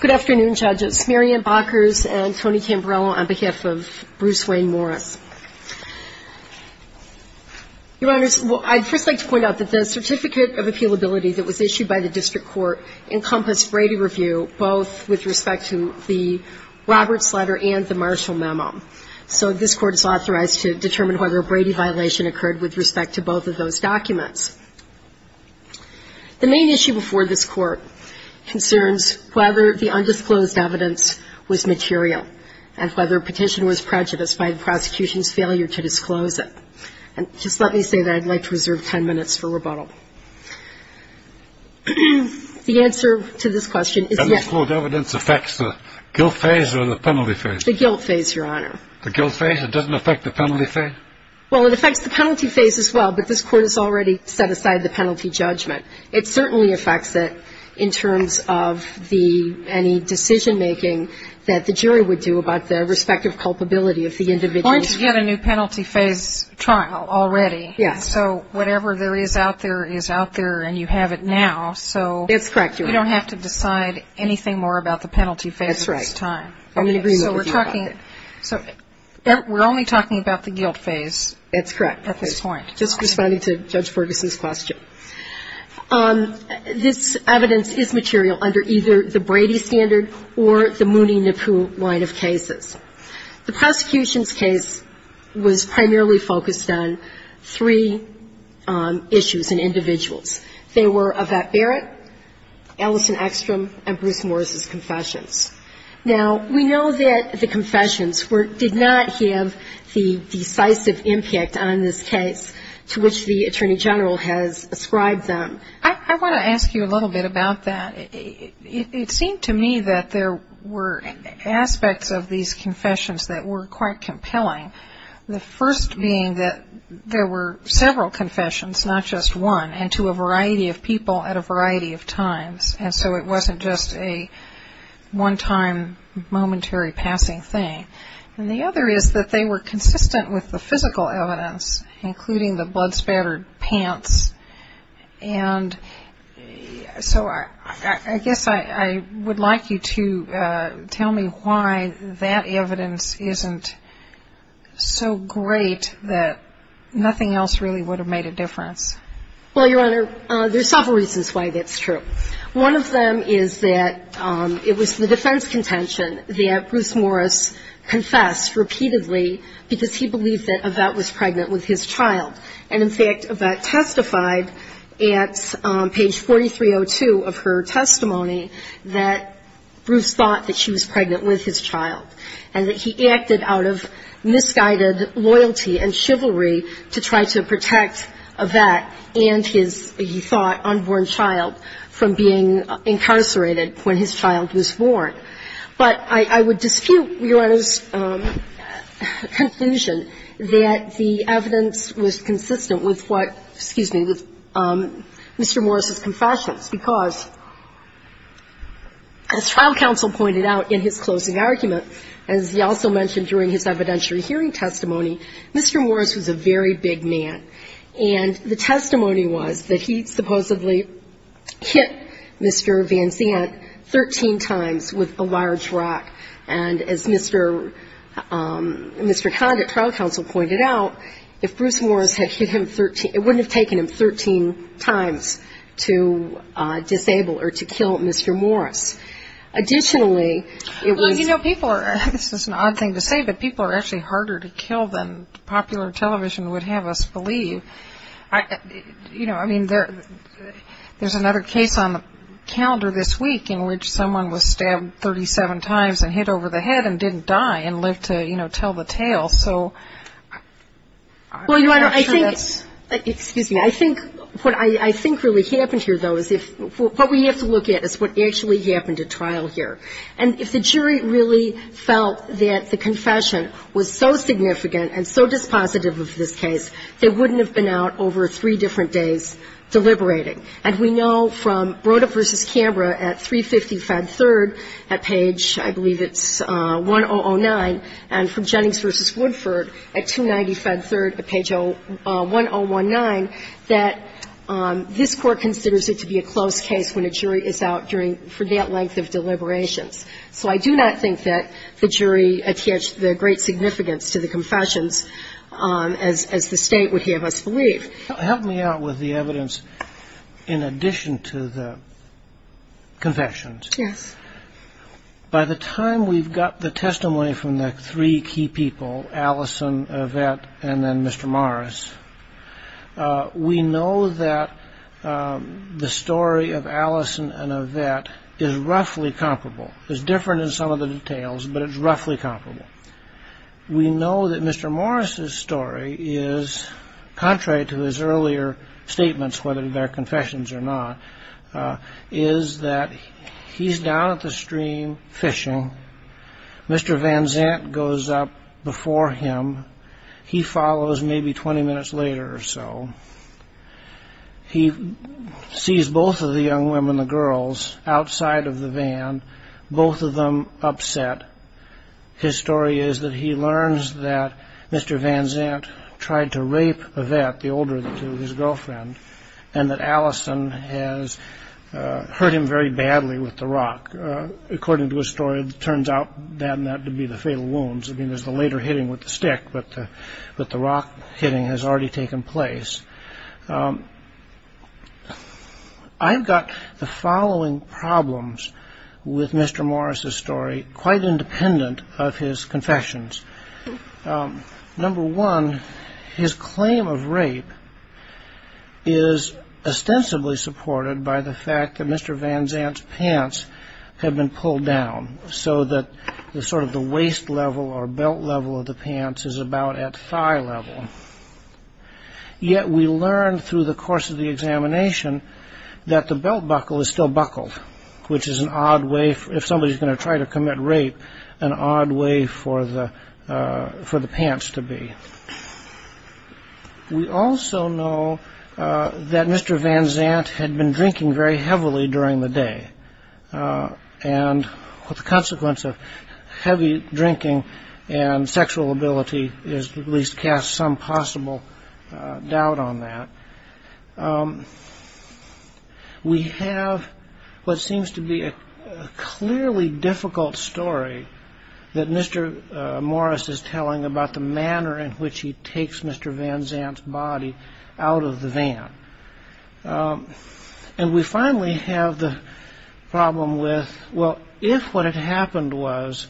Good afternoon, judges. Mary Ann Bakkers and Tony Cambarello on behalf of Bruce Wayne Morris. Your Honors, I'd first like to point out that the Certificate of Appealability that was issued by the District Court encompassed Brady review, both with respect to the Roberts letter and the Marshall memo. So this Court is authorized to determine whether a Brady violation occurred with respect to both of those documents. The main issue before this Court concerns whether the undisclosed evidence was material and whether a petition was prejudiced by the prosecution's failure to disclose it. And just let me say that I'd like to reserve 10 minutes for rebuttal. The answer to this question is yes. Undisclosed evidence affects the guilt phase or the penalty phase? The guilt phase, Your Honor. The guilt phase? It doesn't affect the penalty phase? Well, it affects the penalty phase as well, but this Court has already set aside the penalty judgment. It certainly affects it in terms of the any decision-making that the jury would do about their respective culpability of the individual. Aren't you getting a new penalty phase trial already? Yes. So whatever there is out there is out there and you have it now. It's correct, Your Honor. So you don't have to decide anything more about the penalty phase at this time. That's right. I'm in agreement with you about that. So we're only talking about the guilt phase? That's correct. At this point. Just responding to Judge Ferguson's question. This evidence is material under either the Brady standard or the Mooney-Nippoo line of cases. The prosecution's case was primarily focused on three issues and individuals. They were Yvette Barrett, Allison Ekstrom, and Bruce Morris's confessions. Now, we know that the confessions did not have the decisive impact on this case to which the Attorney General has ascribed them. I want to ask you a little bit about that. It seemed to me that there were aspects of these confessions that were quite compelling, the first being that there were several confessions, not just one, and to a variety of people at a variety of times. And so it wasn't just a one-time momentary passing thing. And the other is that they were consistent with the physical evidence, including the blood-spattered pants. And so I guess I would like you to tell me why that evidence isn't so great that nothing else really would have made a difference. Well, Your Honor, there's several reasons why that's true. One of them is that it was the defense contention that Bruce Morris confessed repeatedly because he believed that Yvette was pregnant with his child. And, in fact, Yvette testified at page 4302 of her testimony that Bruce thought that she was pregnant with his child and that he acted out of misguided loyalty and chivalry to try to protect Yvette and his, he thought, unborn child from being incarcerated when his child was born. But I would dispute Your Honor's conclusion that the evidence was consistent with what, excuse me, with Mr. Morris's confessions because, as trial counsel pointed out in his closing argument, as he also mentioned during his evidentiary hearing testimony, Mr. Morris was a very big man. And the testimony was that he supposedly hit Mr. Van Zandt 13 times with a large rock. And, as Mr. Conditt, trial counsel, pointed out, if Bruce Morris had hit him 13, it wouldn't have taken him 13 times to disable or to kill Mr. Morris. Additionally, it was... Well, you know, people are, this is an odd thing to say, but people are actually harder to kill than popular television would have us believe. You know, I mean, there's another case on the calendar this week in which someone was stabbed 37 times and hit over the head and didn't die and lived to, you know, tell the tale. Well, Your Honor, I think, excuse me, I think what I think really happened here, though, is if, what we have to look at is what actually happened at trial here. And if the jury really felt that the confession was so significant and so dispositive of this case, they wouldn't have been out over three different days deliberating. And we know from Broda v. Canberra at 350 Fed 3rd at page, I believe it's 1009, and from Jennings v. Woodford at 290 Fed 3rd at page 1019, that this Court considers it to be a close case when a jury is out for that length of deliberations. So I do not think that the jury adhered to the great significance to the confessions, as the State would have us believe. Help me out with the evidence in addition to the confessions. Yes. By the time we've got the testimony from the three key people, Allison, Yvette, and then Mr. Morris, we know that the story of Allison and Yvette is roughly comparable. It's different in some of the details, but it's roughly comparable. We know that Mr. Morris' story is, contrary to his earlier statements, whether they're confessions or not, is that he's down at the stream fishing. Mr. Van Zant goes up before him. He follows maybe 20 minutes later or so. He sees both of the young women, the girls, outside of the van, both of them upset. His story is that he learns that Mr. Van Zant tried to rape Yvette, the older of the two, his girlfriend, and that Allison has hurt him very badly with the rock. According to his story, it turns out that it had to be the fatal wounds. I mean, there's the later hitting with the stick, but the rock hitting has already taken place. I've got the following problems with Mr. Morris' story, quite independent of his confessions. Number one, his claim of rape is ostensibly supported by the fact that Mr. Van Zant's pants have been pulled down so that sort of the waist level or belt level of the pants is about at thigh level. Yet we learn through the course of the examination that the belt buckle is still buckled, which is an odd way, if somebody's going to try to commit rape, an odd way for the pants to be. We also know that Mr. Van Zant had been drinking very heavily during the day, and the consequence of heavy drinking and sexual ability is to at least cast some possible doubt on that. We have what seems to be a clearly difficult story that Mr. Morris is telling about the manner in which he takes Mr. Van Zant's body out of the van. And we finally have the problem with, well, if what had happened was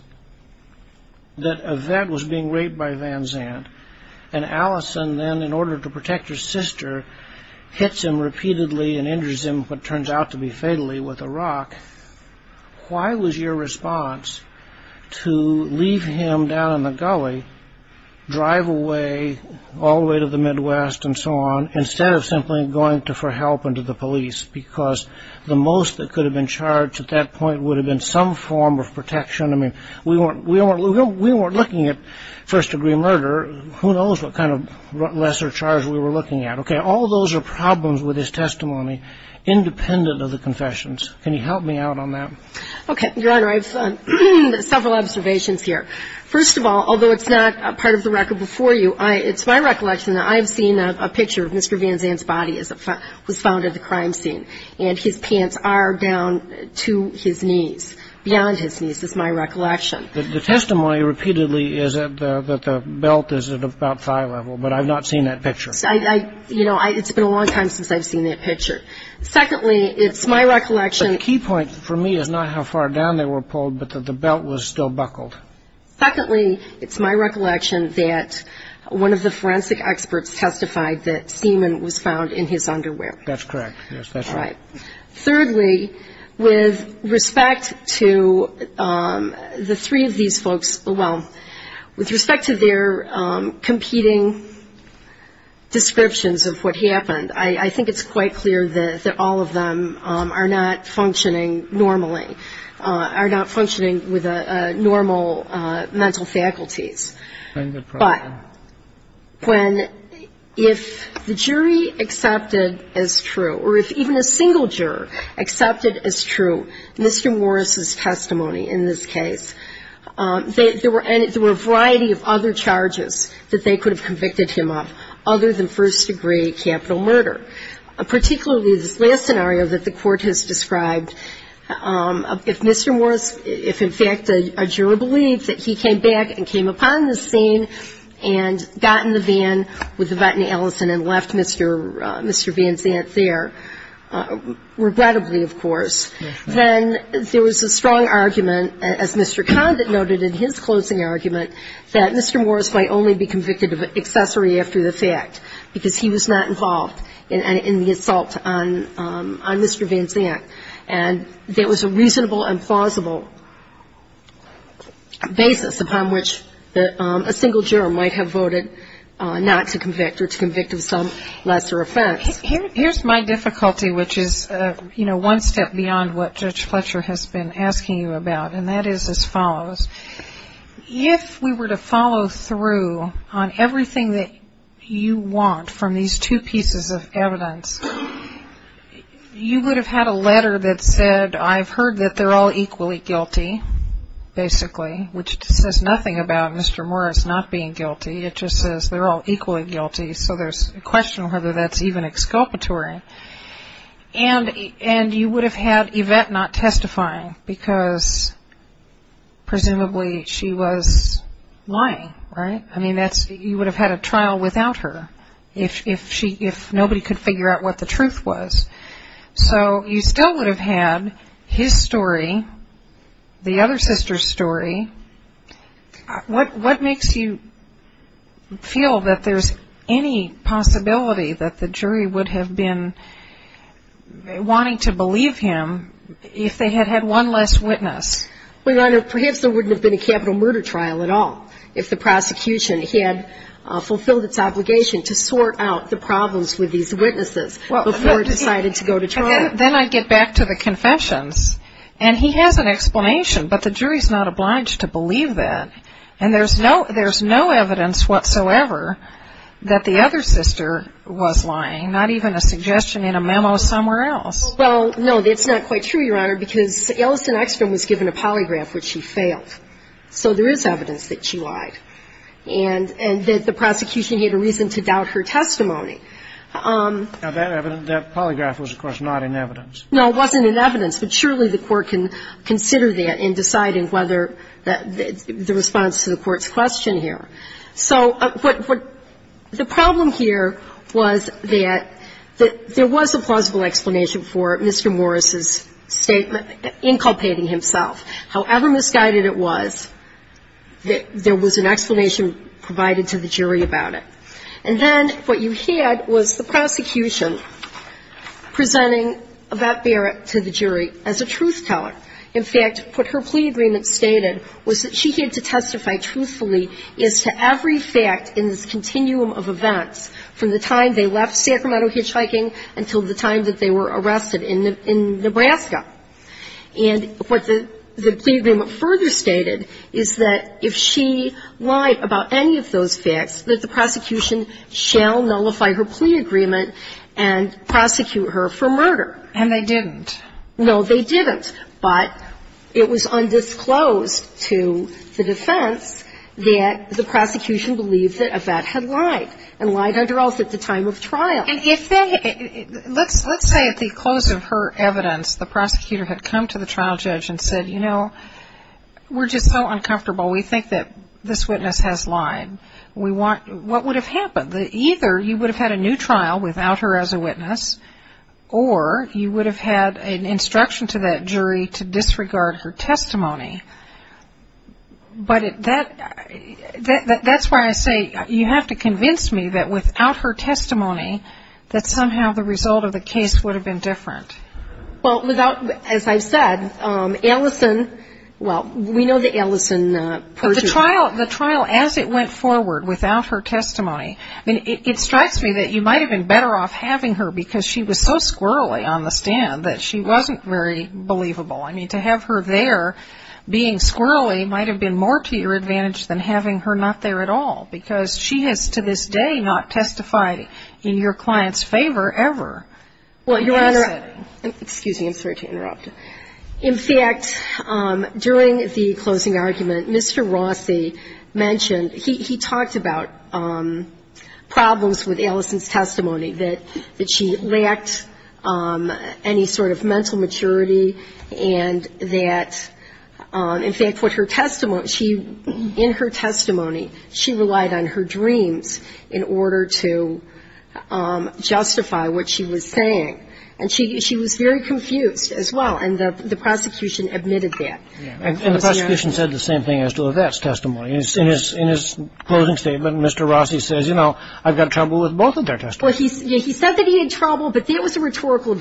that a vet was being raped by Van Zant, and Allison then, in order to protect her sister, hits him repeatedly and injures him, what turns out to be fatally, with a rock, why was your response to leave him down in the gully, drive away all the way to the Midwest and so on, instead of simply going for help and to the police? Because the most that could have been charged at that point would have been some form of protection. I mean, we weren't looking at first-degree murder. Who knows what kind of lesser charge we were looking at. Okay, all those are problems with his testimony, independent of the confessions. Can you help me out on that? Okay, Your Honor, I have several observations here. First of all, although it's not part of the record before you, it's my recollection that I have seen a picture of Mr. Van Zant's body as it was found at the crime scene, and his pants are down to his knees, beyond his knees, is my recollection. The testimony repeatedly is that the belt is at about thigh level, but I've not seen that picture. You know, it's been a long time since I've seen that picture. Secondly, it's my recollection – The key point for me is not how far down they were pulled, but that the belt was still buckled. Secondly, it's my recollection that one of the forensic experts testified that semen was found in his underwear. That's correct. Yes, that's right. Thirdly, with respect to the three of these folks – well, with respect to their competing descriptions of what happened, I think it's quite clear that all of them are not functioning normally, are not functioning with normal mental faculties. But if the jury accepted as true, or if even a single juror accepted as true Mr. Morris's testimony in this case, there were a variety of other charges that they could have convicted him of other than first-degree capital murder, particularly this last scenario that the Court has described. If Mr. Morris – if, in fact, a juror believed that he came back and came upon the scene and got in the van with the vet in Ellison and left Mr. Van Zant there, regrettably, of course, then there was a strong argument, as Mr. Condit noted in his closing argument, that Mr. Morris might only be convicted of accessory after the fact, because he was not involved in the assault on Mr. Van Zant. And there was a reasonable and plausible basis upon which a single juror might have voted not to convict or to convict of some lesser offense. Here's my difficulty, which is, you know, one step beyond what Judge Fletcher has been asking you about, and that is as follows. If we were to follow through on everything that you want from these two pieces of evidence, you would have had a letter that said, I've heard that they're all equally guilty, basically, which says nothing about Mr. Morris not being guilty. It just says they're all equally guilty, so there's a question of whether that's even exculpatory. And you would have had Yvette not testifying because presumably she was lying, right? I mean, you would have had a trial without her. If nobody could figure out what the truth was. So you still would have had his story, the other sister's story. What makes you feel that there's any possibility that the jury would have been wanting to believe him if they had had one less witness? Well, Your Honor, perhaps there wouldn't have been a capital murder trial at all if the prosecution had fulfilled its obligation to sort out the problems with these witnesses before it decided to go to trial. Then I get back to the confessions, and he has an explanation, but the jury's not obliged to believe that. And there's no evidence whatsoever that the other sister was lying, not even a suggestion in a memo somewhere else. Well, no, that's not quite true, Your Honor, because Ellison Ekstrom was given a polygraph, which she failed. So there is evidence that she lied and that the prosecution had a reason to doubt her testimony. Now, that evidence, that polygraph was, of course, not in evidence. No, it wasn't in evidence, but surely the Court can consider that in deciding whether the response to the Court's question here. So what the problem here was that there was a plausible explanation for Mr. Morris's inculpating himself. However misguided it was, there was an explanation provided to the jury about it. And then what you had was the prosecution presenting about Barrett to the jury as a truth-teller. In fact, what her plea agreement stated was that she had to testify truthfully as to every fact in this continuum of events from the time they left Sacramento hitchhiking until the time that they were arrested in Nebraska. And what the plea agreement further stated is that if she lied about any of those facts, that the prosecution shall nullify her plea agreement and prosecute her for murder. And they didn't. No, they didn't. But it was undisclosed to the defense that the prosecution believed that a vet had lied and lied under oath at the time of trial. And if they — Let's say at the close of her evidence, the prosecutor had come to the trial judge and said, you know, we're just so uncomfortable. We think that this witness has lied. We want — what would have happened? Either you would have had a new trial without her as a witness, or you would have had an instruction to that jury to disregard her testimony. But that's why I say you have to convince me that without her testimony, that somehow the result of the case would have been different. Well, without — as I've said, Ellison — well, we know the Ellison person. The trial, as it went forward, without her testimony, I mean, it strikes me that you might have been better off having her because she was so squirrelly on the stand that she wasn't very believable. I mean, to have her there being squirrelly might have been more to your advantage than having her not there at all because she has to this day not testified in your client's favor ever. Well, Your Honor — In this setting. Excuse me. I'm sorry to interrupt. In fact, during the closing argument, Mr. Rossi mentioned — he talked about problems with Ellison's testimony, that she lacked any sort of mental maturity, and that, in fact, what her testimony — in her testimony, she relied on her dreams in order to justify what she was saying. And she was very confused as well, and the prosecution admitted that. And the prosecution said the same thing as to Evette's testimony. In his closing statement, Mr. Rossi says, you know, I've got trouble with both of their testimonies. Well, he said that he had trouble, but that was a rhetorical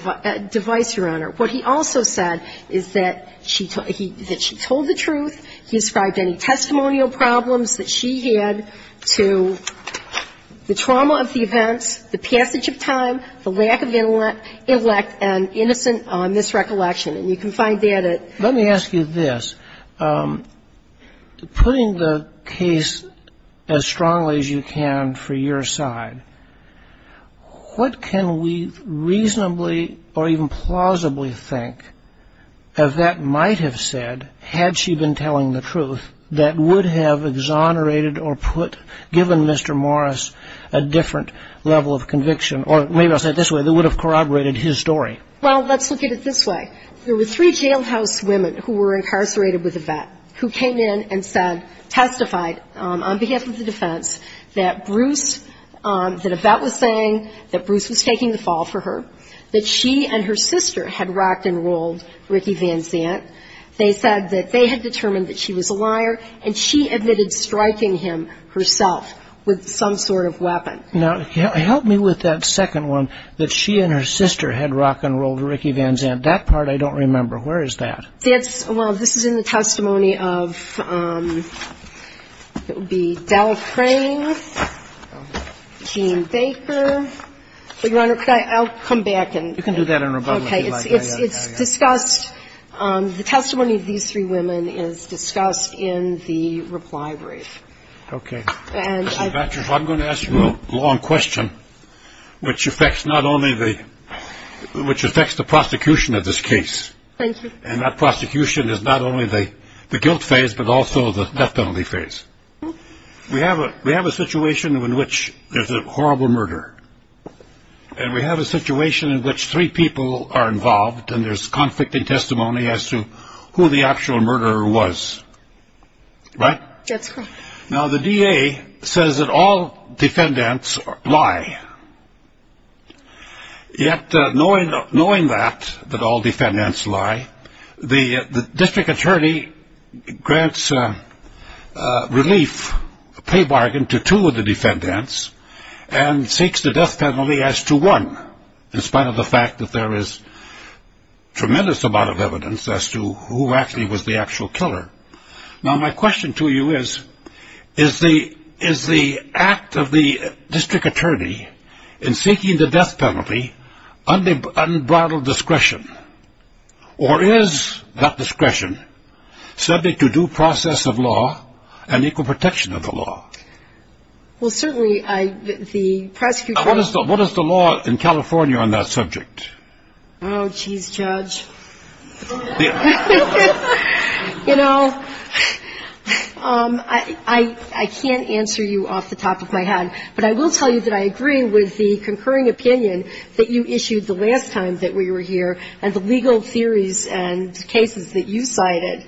device, Your Honor. What he also said is that she told the truth. He described any testimonial problems that she had to the trauma of the events, the passage of time, the lack of intellect, and innocent misrecollection. And you can find that at — Let me ask you this. Putting the case as strongly as you can for your side, what can we reasonably or even plausibly think Evette might have said had she been telling the truth that would have exonerated or put — given Mr. Morris a different level of conviction, or maybe I'll say it this way, that would have corroborated his story? Well, let's look at it this way. There were three jailhouse women who were incarcerated with Evette who came in and said, testified on behalf of the defense that Bruce — that Evette was saying that Bruce was taking the fall for her, that she and her sister had rocked and rolled Ricky Van Zandt. They said that they had determined that she was a liar, and she admitted striking him herself with some sort of weapon. Now, help me with that second one, that she and her sister had rocked and rolled Ricky Van Zandt. That part I don't remember. Where is that? That's — well, this is in the testimony of — it would be Del Crane, Jean Baker. Your Honor, could I — I'll come back and — You can do that in rebuttal, if you like. Okay. It's discussed — the testimony of these three women is discussed in the reply brief. Okay. I'm going to ask you a long question, which affects not only the — which affects the prosecution of this case. And that prosecution is not only the guilt phase, but also the death penalty phase. We have a situation in which there's a horrible murder, and we have a situation in which three people are involved, and there's conflicting testimony as to who the actual murderer was. Right? That's right. Now, the DA says that all defendants lie. Yet, knowing that, that all defendants lie, the district attorney grants relief, a pay bargain, to two of the defendants and seeks the death penalty as to one, in spite of the fact that there is a tremendous amount of evidence as to who actually was the actual killer. Now, my question to you is, is the act of the district attorney in seeking the death penalty unbridled discretion? Or is that discretion subject to due process of law and equal protection of the law? Well, certainly, the prosecution — What is the law in California on that subject? Oh, jeez, Judge. You know, I can't answer you off the top of my head, but I will tell you that I agree with the concurring opinion that you issued the last time that we were here and the legal theories and cases that you cited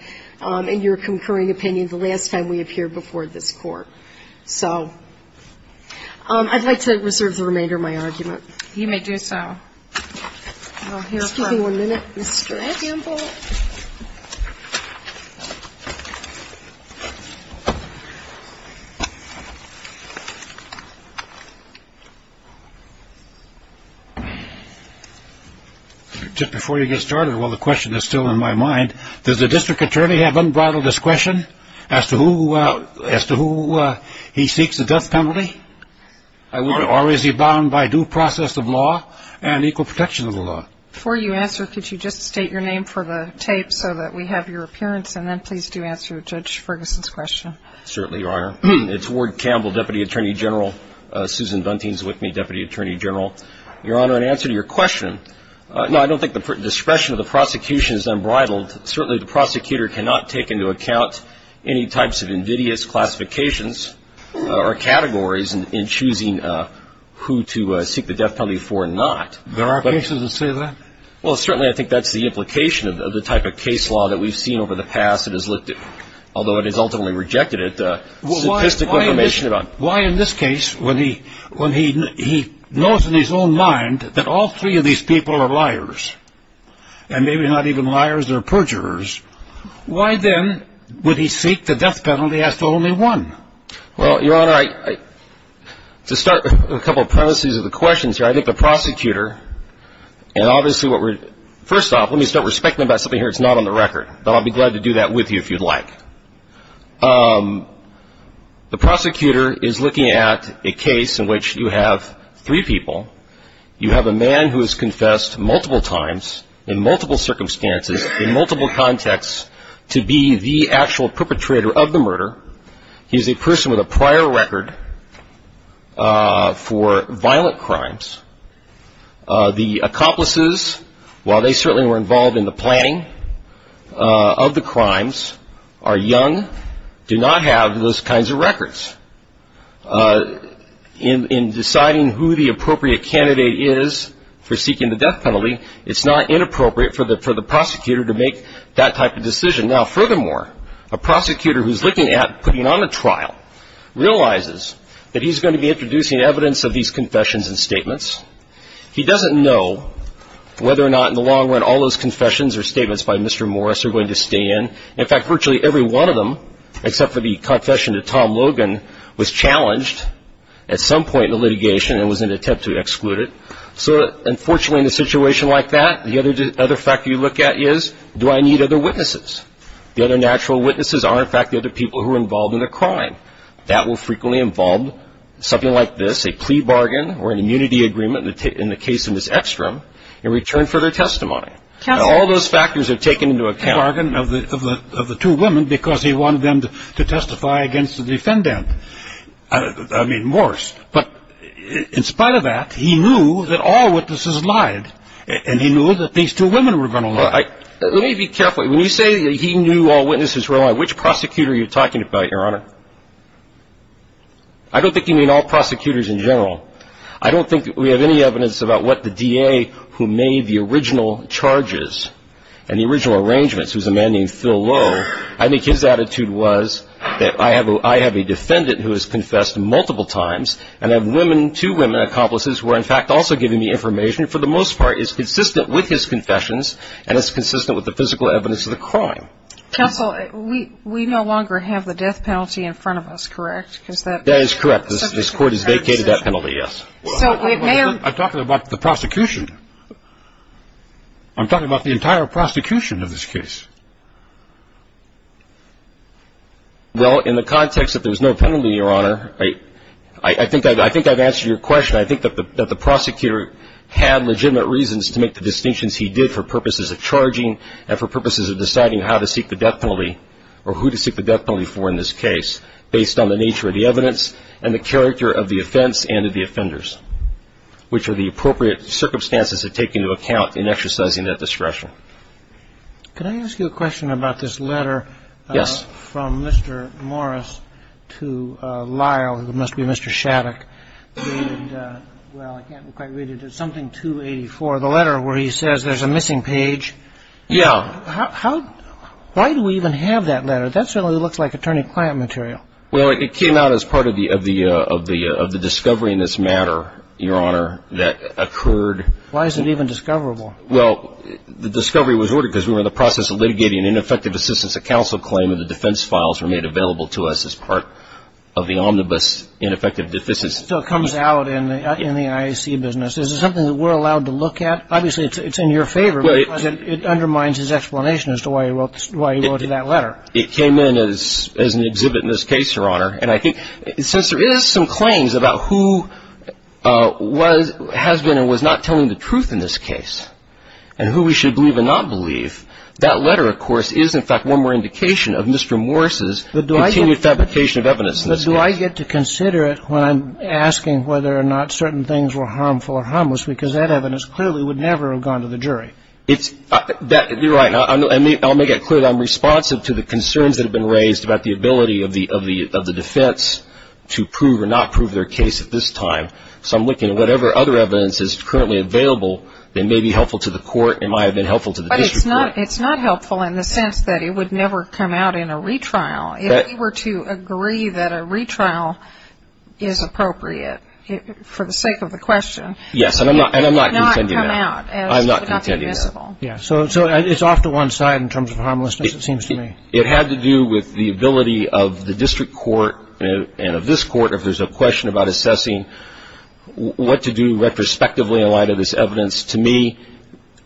in your concurring opinion the last time we appeared before this Court. So I'd like to reserve the remainder of my argument. You may do so. Excuse me one minute, Mr. Campbell. Just before you get started, while the question is still in my mind, does the district attorney have unbridled discretion as to who he seeks the death penalty? Or is he bound by due process of law and equal protection of the law? Before you answer, could you just state your name for the tape so that we have your appearance, and then please do answer Judge Ferguson's question. Certainly, Your Honor. It's Ward Campbell, Deputy Attorney General. Susan Bunting is with me, Deputy Attorney General. Your Honor, in answer to your question, no, I don't think the discretion of the prosecution is unbridled. Certainly, the prosecutor cannot take into account any types of invidious classifications or categories in choosing who to seek the death penalty for or not. There are cases that say that? Well, certainly, I think that's the implication of the type of case law that we've seen over the past that has looked at, although it has ultimately rejected it, sophisticated information about it. Why, in this case, when he knows in his own mind that all three of these people are liars, and maybe not even liars, they're perjurers, why, then, would he seek the death penalty as to only one? Well, Your Honor, to start a couple of premises of the questions here, I think the prosecutor, and obviously what we're, first off, let me start respecting about something here that's not on the record, but I'll be glad to do that with you if you'd like. The prosecutor is looking at a case in which you have three people. You have a man who has confessed multiple times, in multiple circumstances, in multiple contexts to be the actual perpetrator of the murder. He's a person with a prior record for violent crimes. The accomplices, while they certainly were involved in the planning of the crimes, are young, do not have those kinds of records. In deciding who the appropriate candidate is for seeking the death penalty, it's not inappropriate for the prosecutor to make that type of decision. Now, furthermore, a prosecutor who's looking at putting on a trial realizes that he's going to be introducing evidence of these confessions and statements. He doesn't know whether or not, in the long run, all those confessions or statements by Mr. Morris are going to stay in. In fact, virtually every one of them, except for the confession to Tom Logan, was challenged at some point in the litigation and was an attempt to exclude it. So, unfortunately, in a situation like that, the other factor you look at is, do I need other witnesses? The other natural witnesses are, in fact, the other people who were involved in the crime. That will frequently involve something like this, a plea bargain or an immunity agreement, in the case of Ms. Ekstrom, in return for their testimony. Now, all those factors are taken into account. A plea bargain of the two women because he wanted them to testify against the defendant. I mean, Morris. But in spite of that, he knew that all witnesses lied, and he knew that these two women were going to lie. Let me be careful. When you say that he knew all witnesses were lying, which prosecutor are you talking about, Your Honor? I don't think you mean all prosecutors in general. I don't think we have any evidence about what the DA who made the original charges and the original arrangements, who's a man named Phil Lowe, I think his attitude was that I have a defendant who has confessed multiple times, and that women, two women accomplices, were, in fact, also giving me information, for the most part, is consistent with his confessions, and it's consistent with the physical evidence of the crime. Counsel, we no longer have the death penalty in front of us, correct? That is correct. This Court has vacated that penalty. Yes. I'm talking about the prosecution. I'm talking about the entire prosecution of this case. Well, in the context that there's no penalty, Your Honor, I think I've answered your question. I think that the prosecutor had legitimate reasons to make the distinctions he did for purposes of charging and for purposes of deciding how to seek the death penalty or who to seek the death penalty for in this case based on the nature of the evidence and the character of the offense and of the offenders, which are the appropriate circumstances to take into account in exercising that discretion. Can I ask you a question about this letter from Mr. Morris to Lyle, who must be Mr. Shattuck? Well, I can't quite read it. It's something 284, the letter where he says there's a missing page. Yeah. Why do we even have that letter? That certainly looks like attorney-client material. Well, it came out as part of the discovery in this matter, Your Honor, that occurred. Why is it even discoverable? Well, the discovery was ordered because we were in the process of litigating an ineffective assistance of counsel claim and the defense files were made available to us as part of the omnibus ineffective deficits. So it comes out in the IAC business. Is it something that we're allowed to look at? Obviously, it's in your favor because it undermines his explanation as to why he wrote that letter. It came in as an exhibit in this case, Your Honor. And I think since there is some claims about who has been and was not telling the truth in this case and who we should believe and not believe, that letter, of course, is, in fact, one more indication of Mr. Morris' continued fabrication of evidence in this case. But do I get to consider it when I'm asking whether or not certain things were harmful or harmless because that evidence clearly would never have gone to the jury? You're right. I'll make it clear that I'm responsive to the concerns that have been raised about the ability of the defense to prove or not prove their case at this time. So I'm looking at whatever other evidence is currently available that may be helpful to the court and might have been helpful to the district court. But it's not helpful in the sense that it would never come out in a retrial. If we were to agree that a retrial is appropriate for the sake of the question, it would not come out. Yes, and I'm not contending that. It would not be visible. Yes. So it's off to one side in terms of harmlessness, it seems to me. It had to do with the ability of the district court and of this court, if there's a question about assessing what to do retrospectively in light of this evidence, to me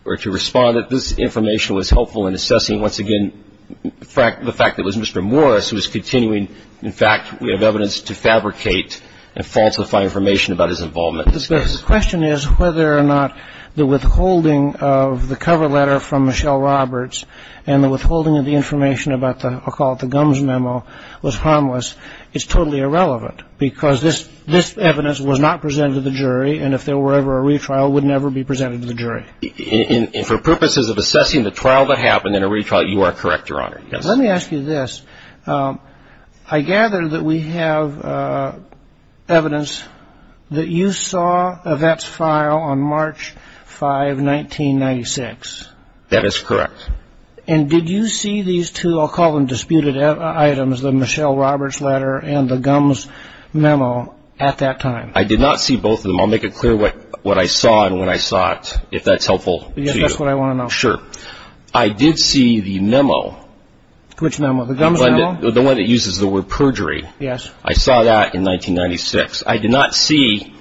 or to respond that this information was helpful in assessing, once again, the fact that it was Mr. Morris who was continuing, in fact, we have evidence to fabricate and falsify information about his involvement in this case. The question is whether or not the withholding of the cover letter from Michelle Roberts and the withholding of the information about the, I'll call it the gums memo, was harmless. It's totally irrelevant because this evidence was not presented to the jury and if there were ever a retrial, would never be presented to the jury. And for purposes of assessing the trial that happened in a retrial, you are correct, Your Honor. Let me ask you this. I gather that we have evidence that you saw Yvette's file on March 5, 1996. That is correct. And did you see these two, I'll call them disputed items, the Michelle Roberts letter and the gums memo at that time? I did not see both of them. I'll make it clear what I saw and when I saw it, if that's helpful to you. Yes, that's what I want to know. Sure. I did see the memo. Which memo? The gums memo. The one that uses the word perjury. Yes. I saw that in 1996. I did not see,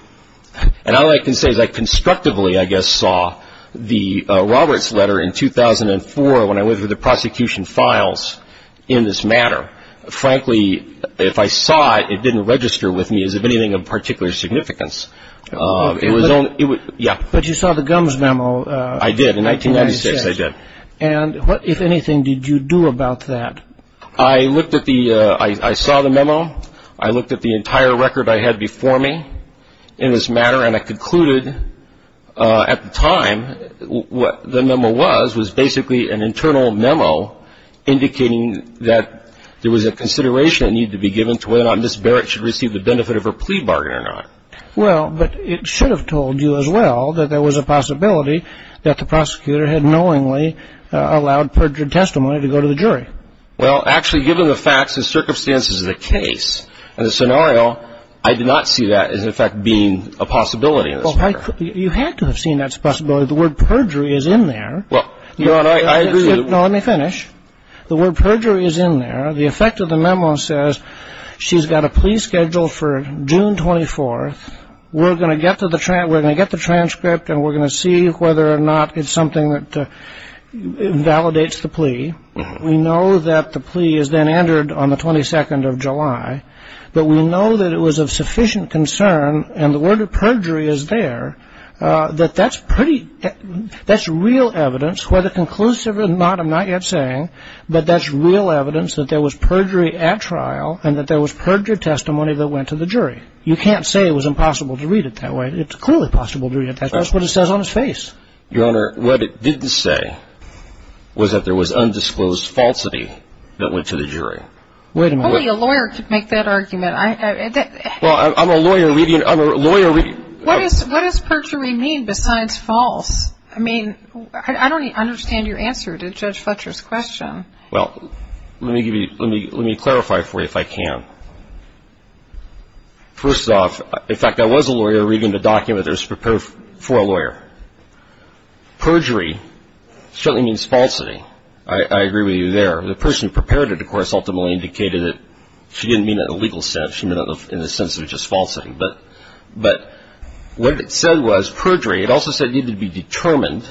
and all I can say is I constructively, I guess, saw the Roberts letter in 2004 when I went through the prosecution files in this matter. Frankly, if I saw it, it didn't register with me as if anything of particular significance. It was only, yeah. But you saw the gums memo in 1996. I did. In 1996 I did. And what, if anything, did you do about that? I looked at the, I saw the memo. I looked at the entire record I had before me in this matter, and I concluded at the time what the memo was was basically an internal memo indicating that there was a consideration that needed to be given to whether or not Ms. Barrett should receive the benefit of her plea bargain or not. Well, but it should have told you as well that there was a possibility that the prosecutor had knowingly allowed perjured testimony to go to the jury. Well, actually, given the facts and circumstances of the case and the scenario, I did not see that as, in fact, being a possibility in this matter. Well, you had to have seen that as a possibility. The word perjury is in there. Well, Your Honor, I agree. No, let me finish. The word perjury is in there. The effect of the memo says she's got a plea scheduled for June 24th. We're going to get the transcript, and we're going to see whether or not it's something that validates the plea. We know that the plea is then entered on the 22nd of July, but we know that it was of sufficient concern, and the word perjury is there, that that's pretty, that's real evidence, whether conclusive or not, I'm not yet saying, but that's real evidence that there was perjury at trial You can't say it was impossible to read it that way. It's clearly possible to read it that way. That's what it says on his face. Your Honor, what it didn't say was that there was undisclosed falsity that went to the jury. Wait a minute. Only a lawyer could make that argument. Well, I'm a lawyer reading. I'm a lawyer reading. What does perjury mean besides false? I mean, I don't understand your answer to Judge Fletcher's question. Well, let me clarify for you if I can. First off, in fact, I was a lawyer reading the document that was prepared for a lawyer. Perjury certainly means falsity. I agree with you there. The person who prepared it, of course, ultimately indicated that she didn't mean it in a legal sense. She meant it in the sense of just falsity. But what it said was perjury. It also said it needed to be determined,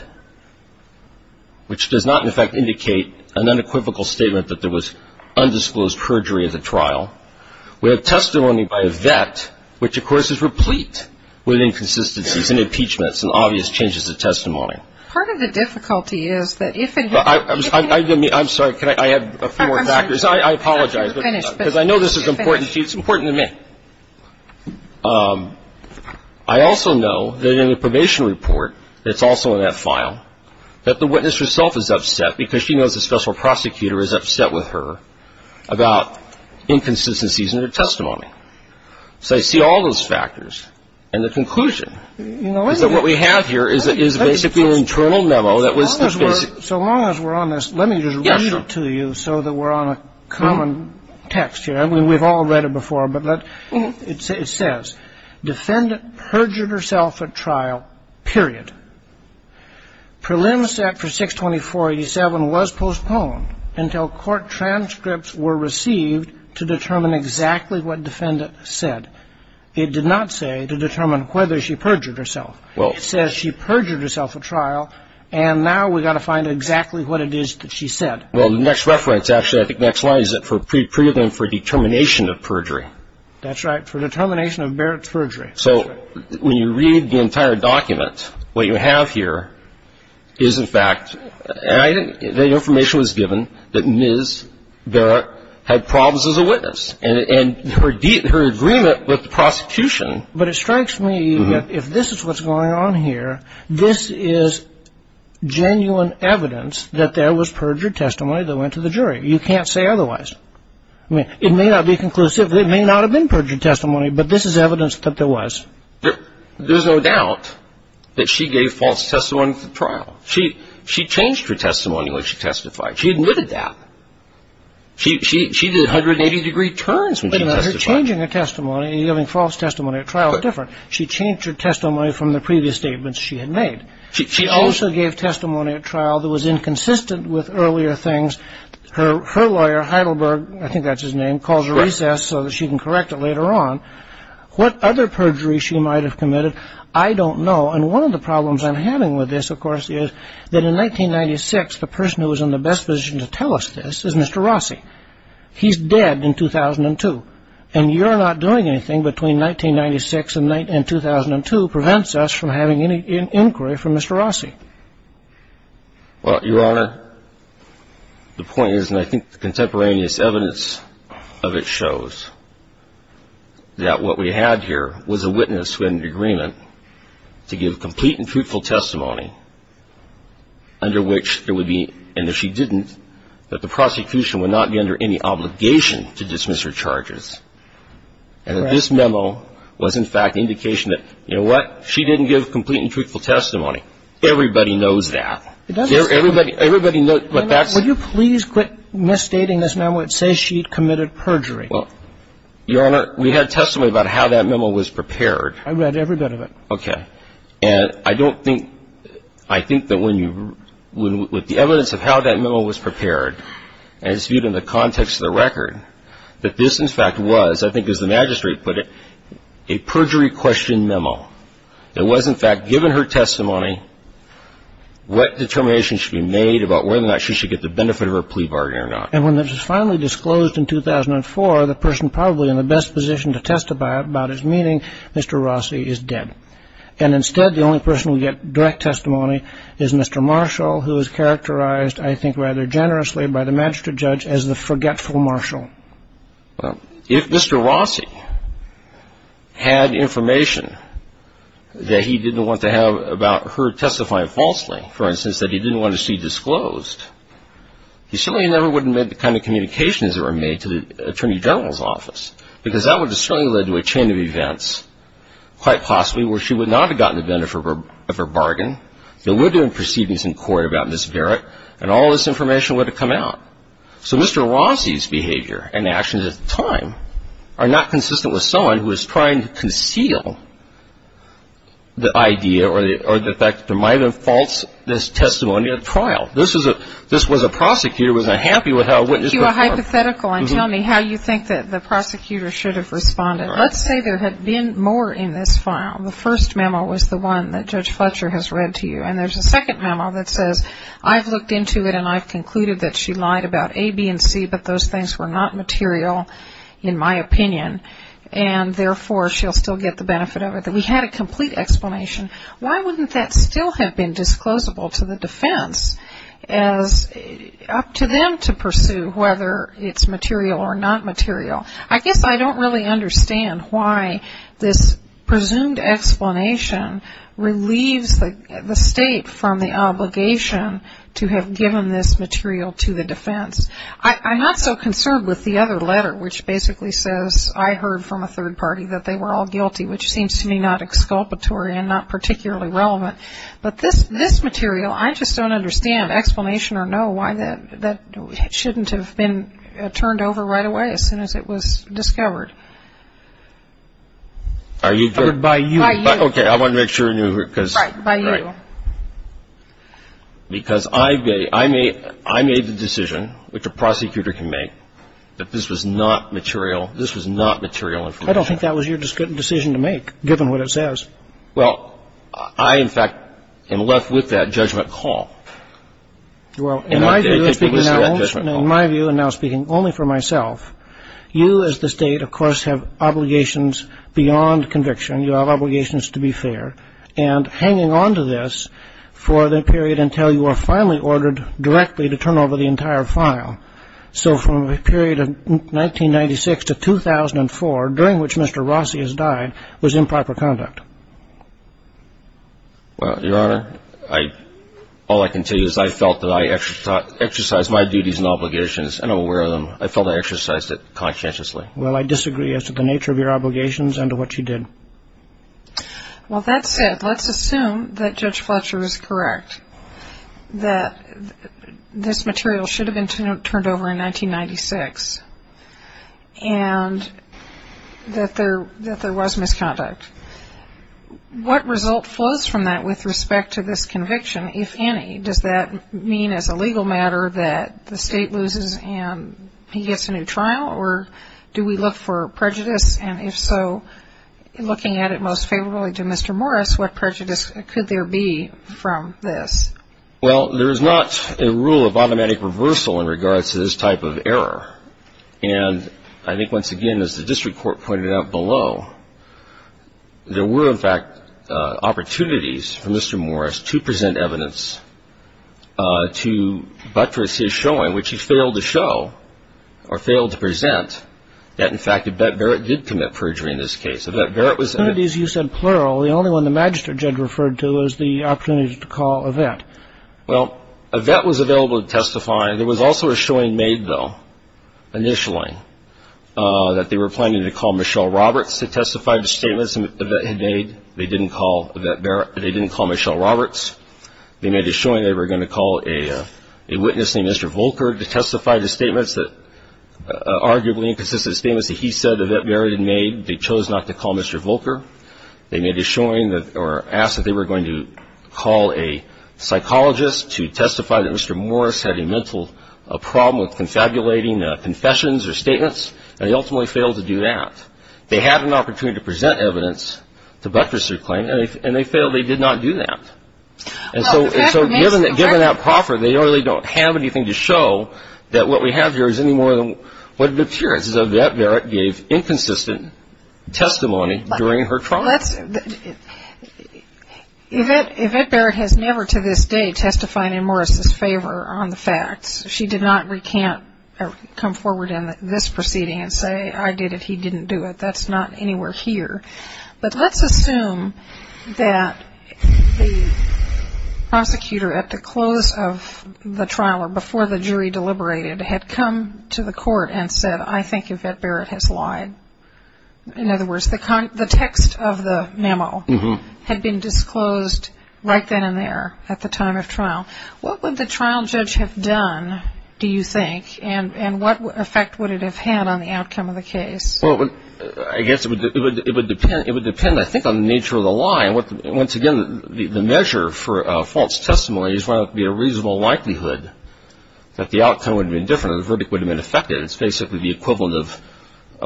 which does not, in fact, indicate an unequivocal statement that there was undisclosed perjury at the trial. We have testimony by a vet, which, of course, is replete with inconsistencies and impeachments and obvious changes of testimony. Part of the difficulty is that if and when you can't do it. I'm sorry. Can I add a few more factors? I apologize. Because I know this is important to you. It's important to me. And I also know that in the probation report that's also in that file that the witness herself is upset because she knows the special prosecutor is upset with her about inconsistencies in her testimony. So I see all those factors. And the conclusion is that what we have here is basically an internal memo that was the basic. So long as we're on this, let me just read it to you so that we're on a common text here. We've all read it before, but it says, defendant perjured herself at trial, period. Prelim set for 624.87 was postponed until court transcripts were received to determine exactly what defendant said. It did not say to determine whether she perjured herself. It says she perjured herself at trial, and now we've got to find exactly what it is that she said. Well, the next reference, actually, I think next line, is it for pre-determined for determination of perjury? That's right, for determination of Barrett's perjury. So when you read the entire document, what you have here is, in fact, the information was given that Ms. Barrett had problems as a witness, and her agreement with the prosecution. But it strikes me, if this is what's going on here, this is genuine evidence that there was perjured testimony that went to the jury. You can't say otherwise. I mean, it may not be conclusive, it may not have been perjured testimony, but this is evidence that there was. There's no doubt that she gave false testimony at the trial. She changed her testimony when she testified. She admitted that. She did 180-degree turns when she testified. But her changing her testimony and giving false testimony at trial are different. She changed her testimony from the previous statements she had made. She also gave testimony at trial that was inconsistent with earlier things. Her lawyer, Heidelberg, I think that's his name, calls a recess so that she can correct it later on. What other perjury she might have committed, I don't know. And one of the problems I'm having with this, of course, is that in 1996, the person who was in the best position to tell us this is Mr. Rossi. He's dead in 2002. And you're not doing anything between 1996 and 2002 prevents us from having any inquiry for Mr. Rossi. Well, Your Honor, the point is, and I think the contemporaneous evidence of it shows, that what we had here was a witness who had an agreement to give complete and truthful testimony under which there would be no obligation to dismiss her charges. And if she didn't, that the prosecution would not be under any obligation to dismiss her charges. And that this memo was, in fact, indication that, you know what? She didn't give complete and truthful testimony. Everybody knows that. Everybody knows that. Would you please quit misstating this memo and say she committed perjury? Your Honor, we had testimony about how that memo was prepared. I read every bit of it. Okay. And I don't think, I think that when you, with the evidence of how that memo was prepared, as viewed in the context of the record, that this, in fact, was, I think as the magistrate put it, a perjury question memo. It was, in fact, given her testimony what determination should be made about whether or not she should get the benefit of her plea bargain or not. And when it was finally disclosed in 2004, the person probably in the best position to testify about his meaning, Mr. Rossi, is dead. And instead, the only person who would get direct testimony is Mr. Marshall, who is characterized, I think, rather generously by the magistrate judge as the forgetful Marshall. Well, if Mr. Rossi had information that he didn't want to have about her testifying falsely, for instance, that he didn't want to see disclosed, he certainly never would have made the kind of communications that were made to the Attorney General's office, because that would have certainly led to a chain of events, quite possibly, where she would not have gotten the benefit of her bargain. There would have been proceedings in court about Ms. Garrett, and all this information would have come out. So Mr. Rossi's behavior and actions at the time are not consistent with someone who is trying to conceal the idea or the fact that there might have been false testimony at trial. This was a prosecutor who was unhappy with how a witness performed. Let me make you a hypothetical and tell me how you think that the prosecutor should have responded. Let's say there had been more in this file. The first memo was the one that Judge Fletcher has read to you, and there's a second memo that says, I've looked into it, and I've concluded that she lied about A, B, and C, but those things were not material, in my opinion, and, therefore, she'll still get the benefit of it. We had a complete explanation. Why wouldn't that still have been disclosable to the defense as up to them to pursue whether it's material or not material? I guess I don't really understand why this presumed explanation relieves the state from the obligation to have given this material to the defense. I'm not so concerned with the other letter, which basically says, I heard from a third party that they were all guilty, which seems to me not exculpatory and not particularly relevant. But this material, I just don't understand, explanation or no, why that shouldn't have been turned over right away as soon as it was discovered. By you. By you. Okay, I want to make sure you hear it. Right, by you. Right. Because I made the decision, which a prosecutor can make, that this was not material. This was not material information. I don't think that was your decision to make, given what it says. Well, I, in fact, am left with that judgment call. Well, in my view, and now speaking only for myself, you as the State, of course, have obligations beyond conviction. You have obligations to be fair. And hanging on to this for the period until you are finally ordered directly to turn over the entire file. So from the period of 1996 to 2004, during which Mr. Rossi has died, was improper conduct. Well, Your Honor, all I can tell you is I felt that I exercised my duties and obligations, and I'm aware of them. I felt I exercised it conscientiously. Well, I disagree as to the nature of your obligations and to what you did. Well, that said, let's assume that Judge Fletcher is correct, that this material should have been turned over in 1996, and that there was misconduct. What result flows from that with respect to this conviction, if any? Does that mean as a legal matter that the State loses and he gets a new trial, or do we look for prejudice? And if so, looking at it most favorably to Mr. Morris, what prejudice could there be from this? Well, there is not a rule of automatic reversal in regards to this type of error. And I think, once again, as the district court pointed out below, there were, in fact, opportunities for Mr. Morris to present evidence to buttress his showing, which he failed to show or failed to present, that, in fact, Yvette Barrett did commit perjury in this case. Yvette Barrett was an attorney. You said plural. The only one the magistrate judge referred to was the opportunity to call Yvette. Well, Yvette was available to testify. There was also a showing made, though, initially, that they were planning to call Michelle Roberts to testify to statements Yvette had made. They didn't call Michelle Roberts. They made a showing they were going to call a witness named Mr. Volker to testify to statements that, arguably inconsistent statements that he said Yvette Barrett had made. They chose not to call Mr. Volker. They made a showing or asked that they were going to call a psychologist to testify that Mr. Morris had a mental problem with confabulating confessions or statements, and they ultimately failed to do that. They had an opportunity to present evidence to buttress their claim, and they failed. They did not do that. And so, given that proffer, they really don't have anything to show that what we have here is any more than what it appears. Because Yvette Barrett gave inconsistent testimony during her trial. Yvette Barrett has never to this day testified in Morris' favor on the facts. She did not recant or come forward in this proceeding and say, I did it, he didn't do it. That's not anywhere here. But let's assume that the prosecutor at the close of the trial or before the jury deliberated had come to the court and said, I think Yvette Barrett has lied. In other words, the text of the memo had been disclosed right then and there at the time of trial. What would the trial judge have done, do you think, and what effect would it have had on the outcome of the case? Well, I guess it would depend, I think, on the nature of the lie. Once again, the measure for false testimony is whether it would be a reasonable likelihood that the outcome would have been different or the verdict would have been effective. It's basically the equivalent of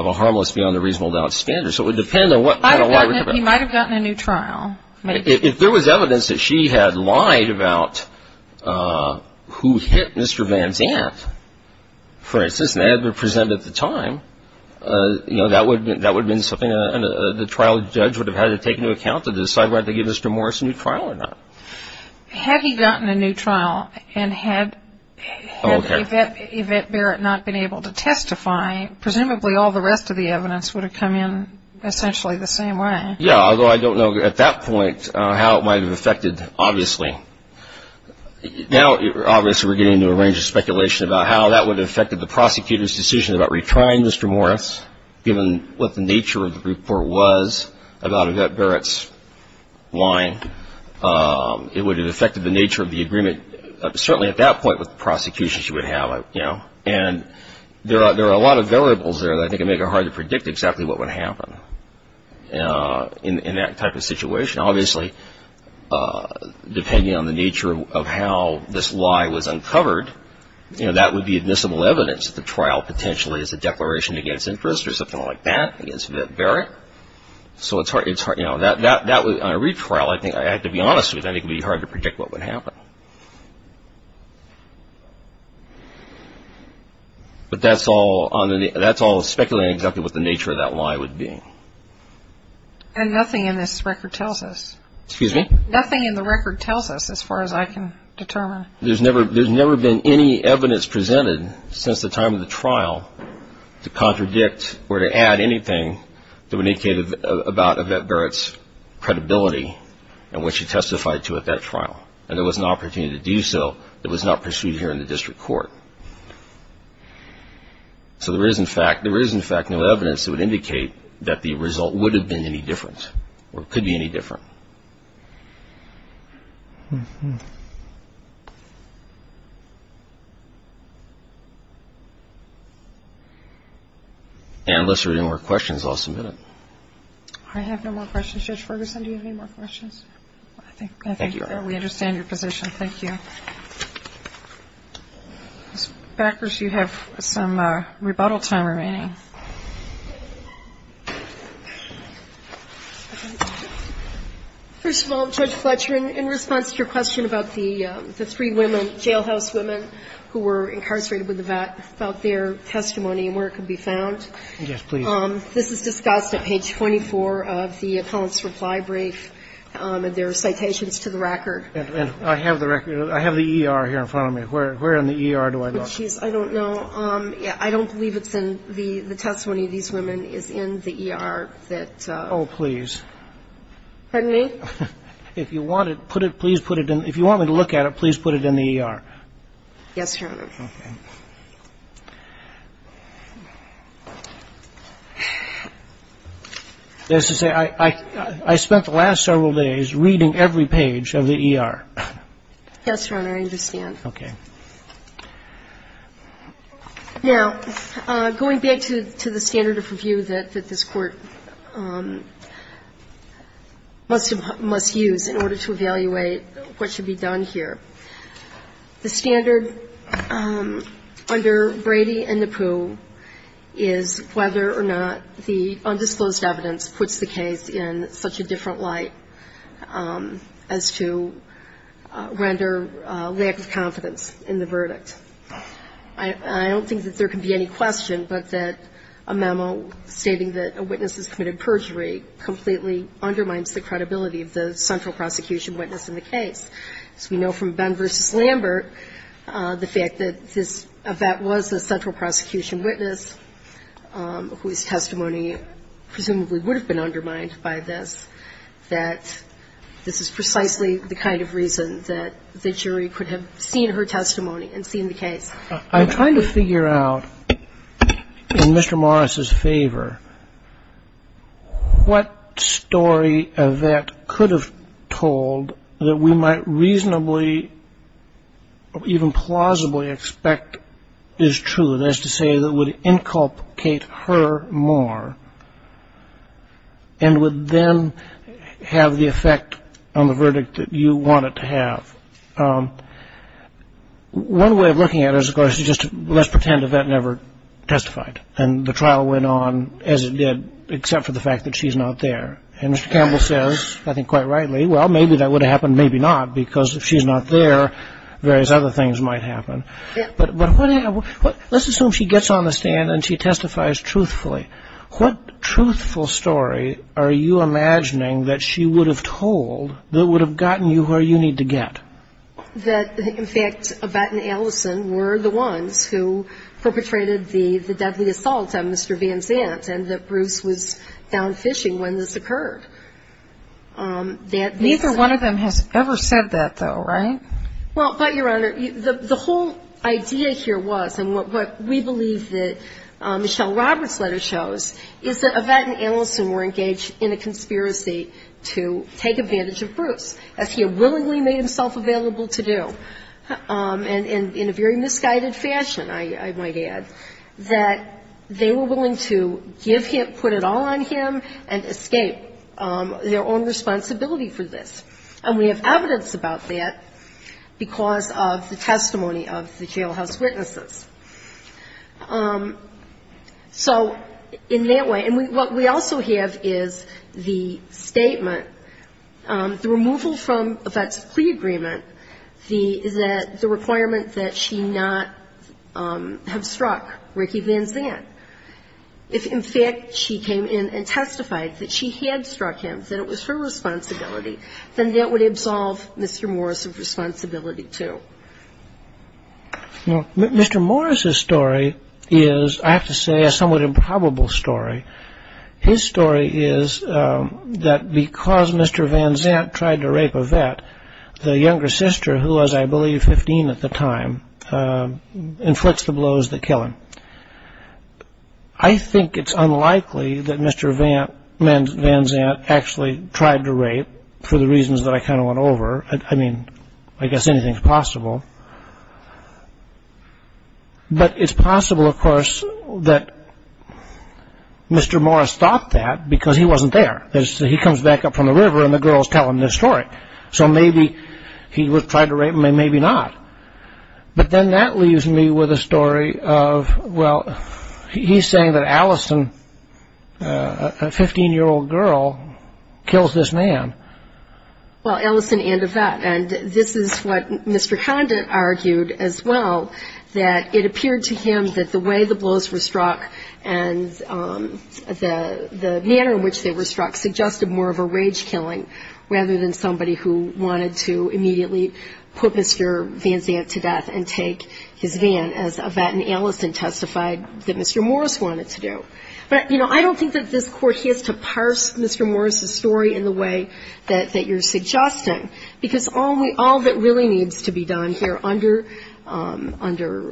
a harmless beyond a reasonable doubt standard. So it would depend on what kind of lie we're talking about. He might have gotten a new trial. If there was evidence that she had lied about who hit Mr. Van Zandt, for instance, and it had been presented at the time, that would have been something the trial judge would have had to take into account to decide whether to give Mr. Morris a new trial or not. Had he gotten a new trial and had Yvette Barrett not been able to testify, presumably all the rest of the evidence would have come in essentially the same way. Yeah, although I don't know at that point how it might have affected, obviously. Now, obviously, we're getting into a range of speculation about how that would have affected the prosecutor's decision about retrying Mr. Morris, given what the nature of the report was about Yvette Barrett's lying. It would have affected the nature of the agreement, certainly at that point with the prosecution she would have. And there are a lot of variables there that I think would make it hard to predict exactly what would happen in that type of situation. Obviously, depending on the nature of how this lie was uncovered, that would be admissible evidence that the trial potentially is a declaration against interest or something like that against Yvette Barrett. So on a retrial, I have to be honest with you, I think it would be hard to predict what would happen. But that's all speculating exactly what the nature of that lie would be. And nothing in this record tells us. Excuse me? Nothing in the record tells us as far as I can determine. There's never been any evidence presented since the time of the trial to contradict or to add anything that would indicate about Yvette Barrett's credibility and what she testified to at that trial. And there was an opportunity to do so that was not pursued here in the district court. So there is, in fact, no evidence that would indicate that the result would have been any different or could be any different. And unless there are any more questions, I'll submit it. I have no more questions. Judge Ferguson, do you have any more questions? I think we understand your position. Thank you. Ms. Backers, you have some rebuttal time remaining. First of all, Judge Fletcher, in response to your question about the three women, jailhouse women who were incarcerated with Yvette, about their testimony and where it could be found. Yes, please. This is discussed at page 24 of the appellant's reply brief. And there are citations to the record. And I have the record. I have the ER here in front of me. Where in the ER do I look? I don't know. I don't believe the testimony of these women is in the ER. Oh, please. Pardon me? If you want me to look at it, please put it in the ER. Yes, Your Honor. Okay. I spent the last several days reading every page of the ER. Yes, Your Honor, I understand. Okay. Now, going back to the standard of review that this Court must use in order to evaluate what should be done here. The standard under Brady and Napoo is whether or not the undisclosed evidence puts the case in such a different light as to render lack of confidence in the verdict. I don't think that there can be any question but that a memo stating that a witness has committed perjury completely undermines the credibility of the central prosecution witness in the case. As we know from Benn v. Lambert, the fact that this Yvette was the central prosecution witness whose testimony presumably would have been undermined by this, that this is precisely the kind of reason that the jury could have seen her testimony and seen the case. I'm trying to figure out, in Mr. Morris's favor, what story Yvette could have told that we might reasonably, even plausibly expect is true. That is to say, that would inculcate her more and would then have the effect on the verdict that you want it to have. One way of looking at it is, of course, just let's pretend Yvette never testified and the trial went on as it did except for the fact that she's not there. And Mr. Campbell says, I think quite rightly, well, maybe that would have happened, maybe not, because if she's not there, various other things might happen. But let's assume she gets on the stand and she testifies truthfully. What truthful story are you imagining that she would have told that would have gotten you where you need to get? That, in fact, Yvette and Allison were the ones who perpetrated the deadly assault on Mr. Van Zant and that Bruce was down fishing when this occurred. Neither one of them has ever said that, though, right? Well, but, Your Honor, the whole idea here was, and what we believe that Michelle Roberts' letter shows, is that Yvette and Allison were engaged in a conspiracy to take advantage of Bruce, as he had willingly made himself available to do, and in a very misguided fashion, I might add, that they were willing to give him, put it all on him, and escape their own responsibility for this. And we have evidence about that because of the testimony of the jailhouse witnesses. So in that way, and what we also have is the statement, the removal from Yvette's plea agreement, the requirement that she not have struck Ricky Van Zant, if, in fact, she came in and testified that she had struck him, that it was her responsibility, then that would absolve Mr. Morris of responsibility, too. Well, Mr. Morris' story is, I have to say, a somewhat improbable story. His story is that because Mr. Van Zant tried to rape Yvette, the younger sister, who was, I believe, 15 at the time, inflicts the blows that kill him. I think it's unlikely that Mr. Van Zant actually tried to rape for the reasons that I kind of went over. I mean, I guess anything's possible. But it's possible, of course, that Mr. Morris thought that because he wasn't there. He comes back up from the river and the girls tell him this story. So maybe he tried to rape, maybe not. But then that leaves me with a story of, well, he's saying that Allison, a 15-year-old girl, kills this man. Well, Allison and Yvette, and this is what Mr. Condon argued as well, that it appeared to him that the way the blows were struck and the manner in which they were struck suggested more of a rage killing rather than somebody who wanted to immediately put Mr. Van Zant to death and take his van, as Yvette and Allison testified that Mr. Morris wanted to do. But, you know, I don't think that this Court has to parse Mr. Morris's story in the way that you're suggesting, because all that really needs to be done here under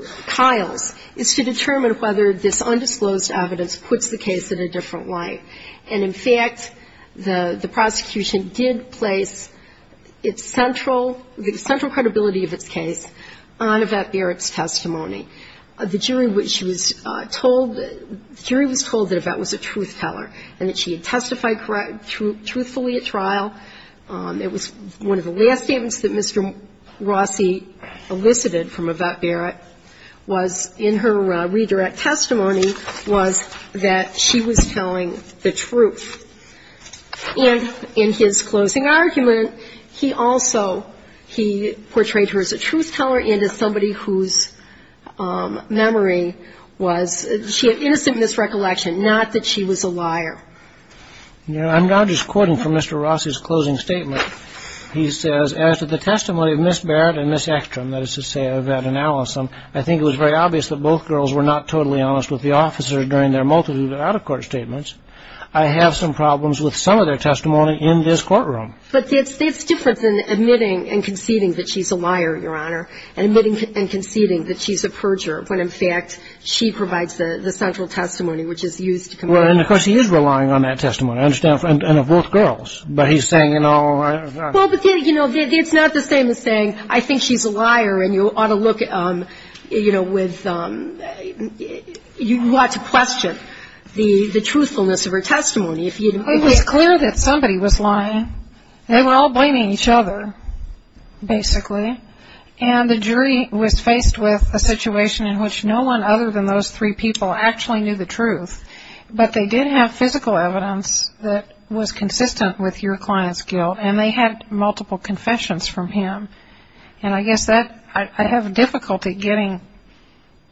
Kyle's is to determine whether this undisclosed evidence puts the case at a different light. And in fact, the prosecution did place its central, the central credibility of its case on Yvette Barrett's testimony. The jury was told that Yvette was a truth teller and that she had testified truthfully at trial. It was one of the last statements that Mr. Rossi elicited from Yvette Barrett was in her redirect testimony was that she was telling the truth. And in his closing argument, he also, he portrayed her as a truth teller and as somebody whose memory was, she had innocent misrecollection, not that she was a liar. You know, I'm now just quoting from Mr. Rossi's closing statement. He says, as to the testimony of Ms. Barrett and Ms. Ekstrom, that is to say Yvette and Alice, I think it was very obvious that both girls were not totally honest with the officer during their multitude of out-of-court statements. I have some problems with some of their testimony in this courtroom. But it's different than admitting and conceding that she's a liar, Your Honor, and admitting and conceding that she's a perjurer, when, in fact, she provides the central testimony, which is used to compare. Well, and of course, he is relying on that testimony, I understand, and of both girls, but he's saying, you know. Well, but, you know, it's not the same as saying, I think she's a liar, and you ought to look, you know, with, you ought to question the truthfulness of her testimony. It was clear that somebody was lying. They were all blaming each other, basically. And the jury was faced with a situation in which no one other than those three people actually knew the truth. But they did have physical evidence that was consistent with your client's guilt, and they had multiple confessions from him. And I guess that I have difficulty getting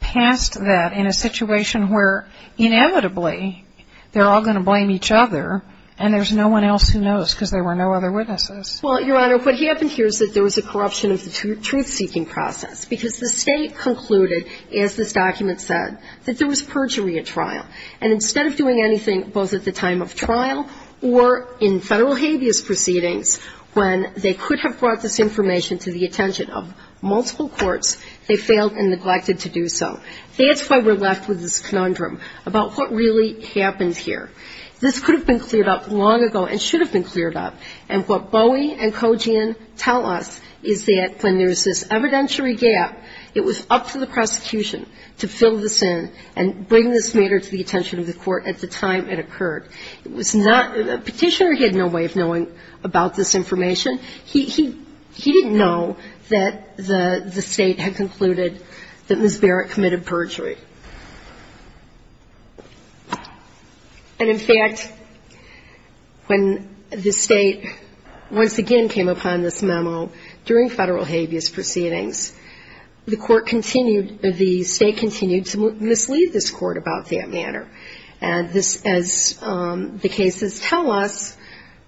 past that in a situation where, inevitably, they're all going to blame each other, and there's no one else who knows because there were no other witnesses. Well, Your Honor, what happened here is that there was a corruption of the truth-seeking process, because the State concluded, as this document said, that there was perjury at trial. And instead of doing anything both at the time of trial or in Federal habeas proceedings, when they could have brought this information to the attention of multiple courts, they failed and neglected to do so. That's why we're left with this conundrum about what really happened here. This could have been cleared up long ago and should have been cleared up. And what Bowie and Kojian tell us is that when there's this evidentiary gap, it was up to the prosecution to fill this in and bring this matter to the attention of the court at the time it occurred. Petitioner had no way of knowing about this information. He didn't know that the State had concluded that Ms. Barrett committed perjury. And, in fact, when the State once again came upon this memo during Federal habeas proceedings, the State continued to mislead this Court about that matter. And this, as the cases tell us,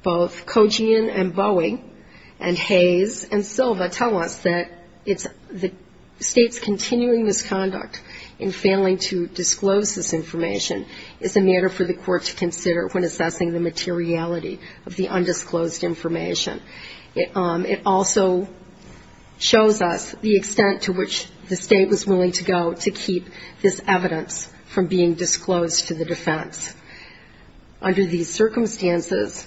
both Kojian and Bowie and Hayes and Silva tell us, that the State's continuing misconduct in failing to disclose this information is a matter for the Court to consider when assessing the materiality of the undisclosed information. It also shows us the extent to which the State was willing to go to keep this evidence from being disclosed to the defense under these circumstances,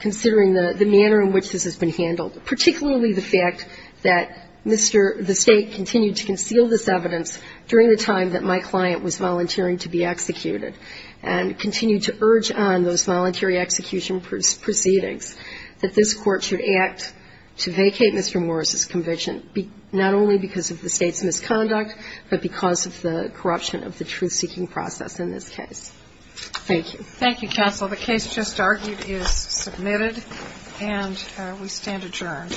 considering the manner in which this has been handled, particularly the fact that Mr. — the State continued to conceal this evidence during the time that my client was volunteering to be executed, and continued to urge on those voluntary execution proceedings that this Court should act to vacate Mr. Morris's conviction, not only because of the State's misconduct, but because of the corruption of the truth-seeking process in this case. Thank you. Thank you, Counsel. The case just argued is submitted, and we stand adjourned.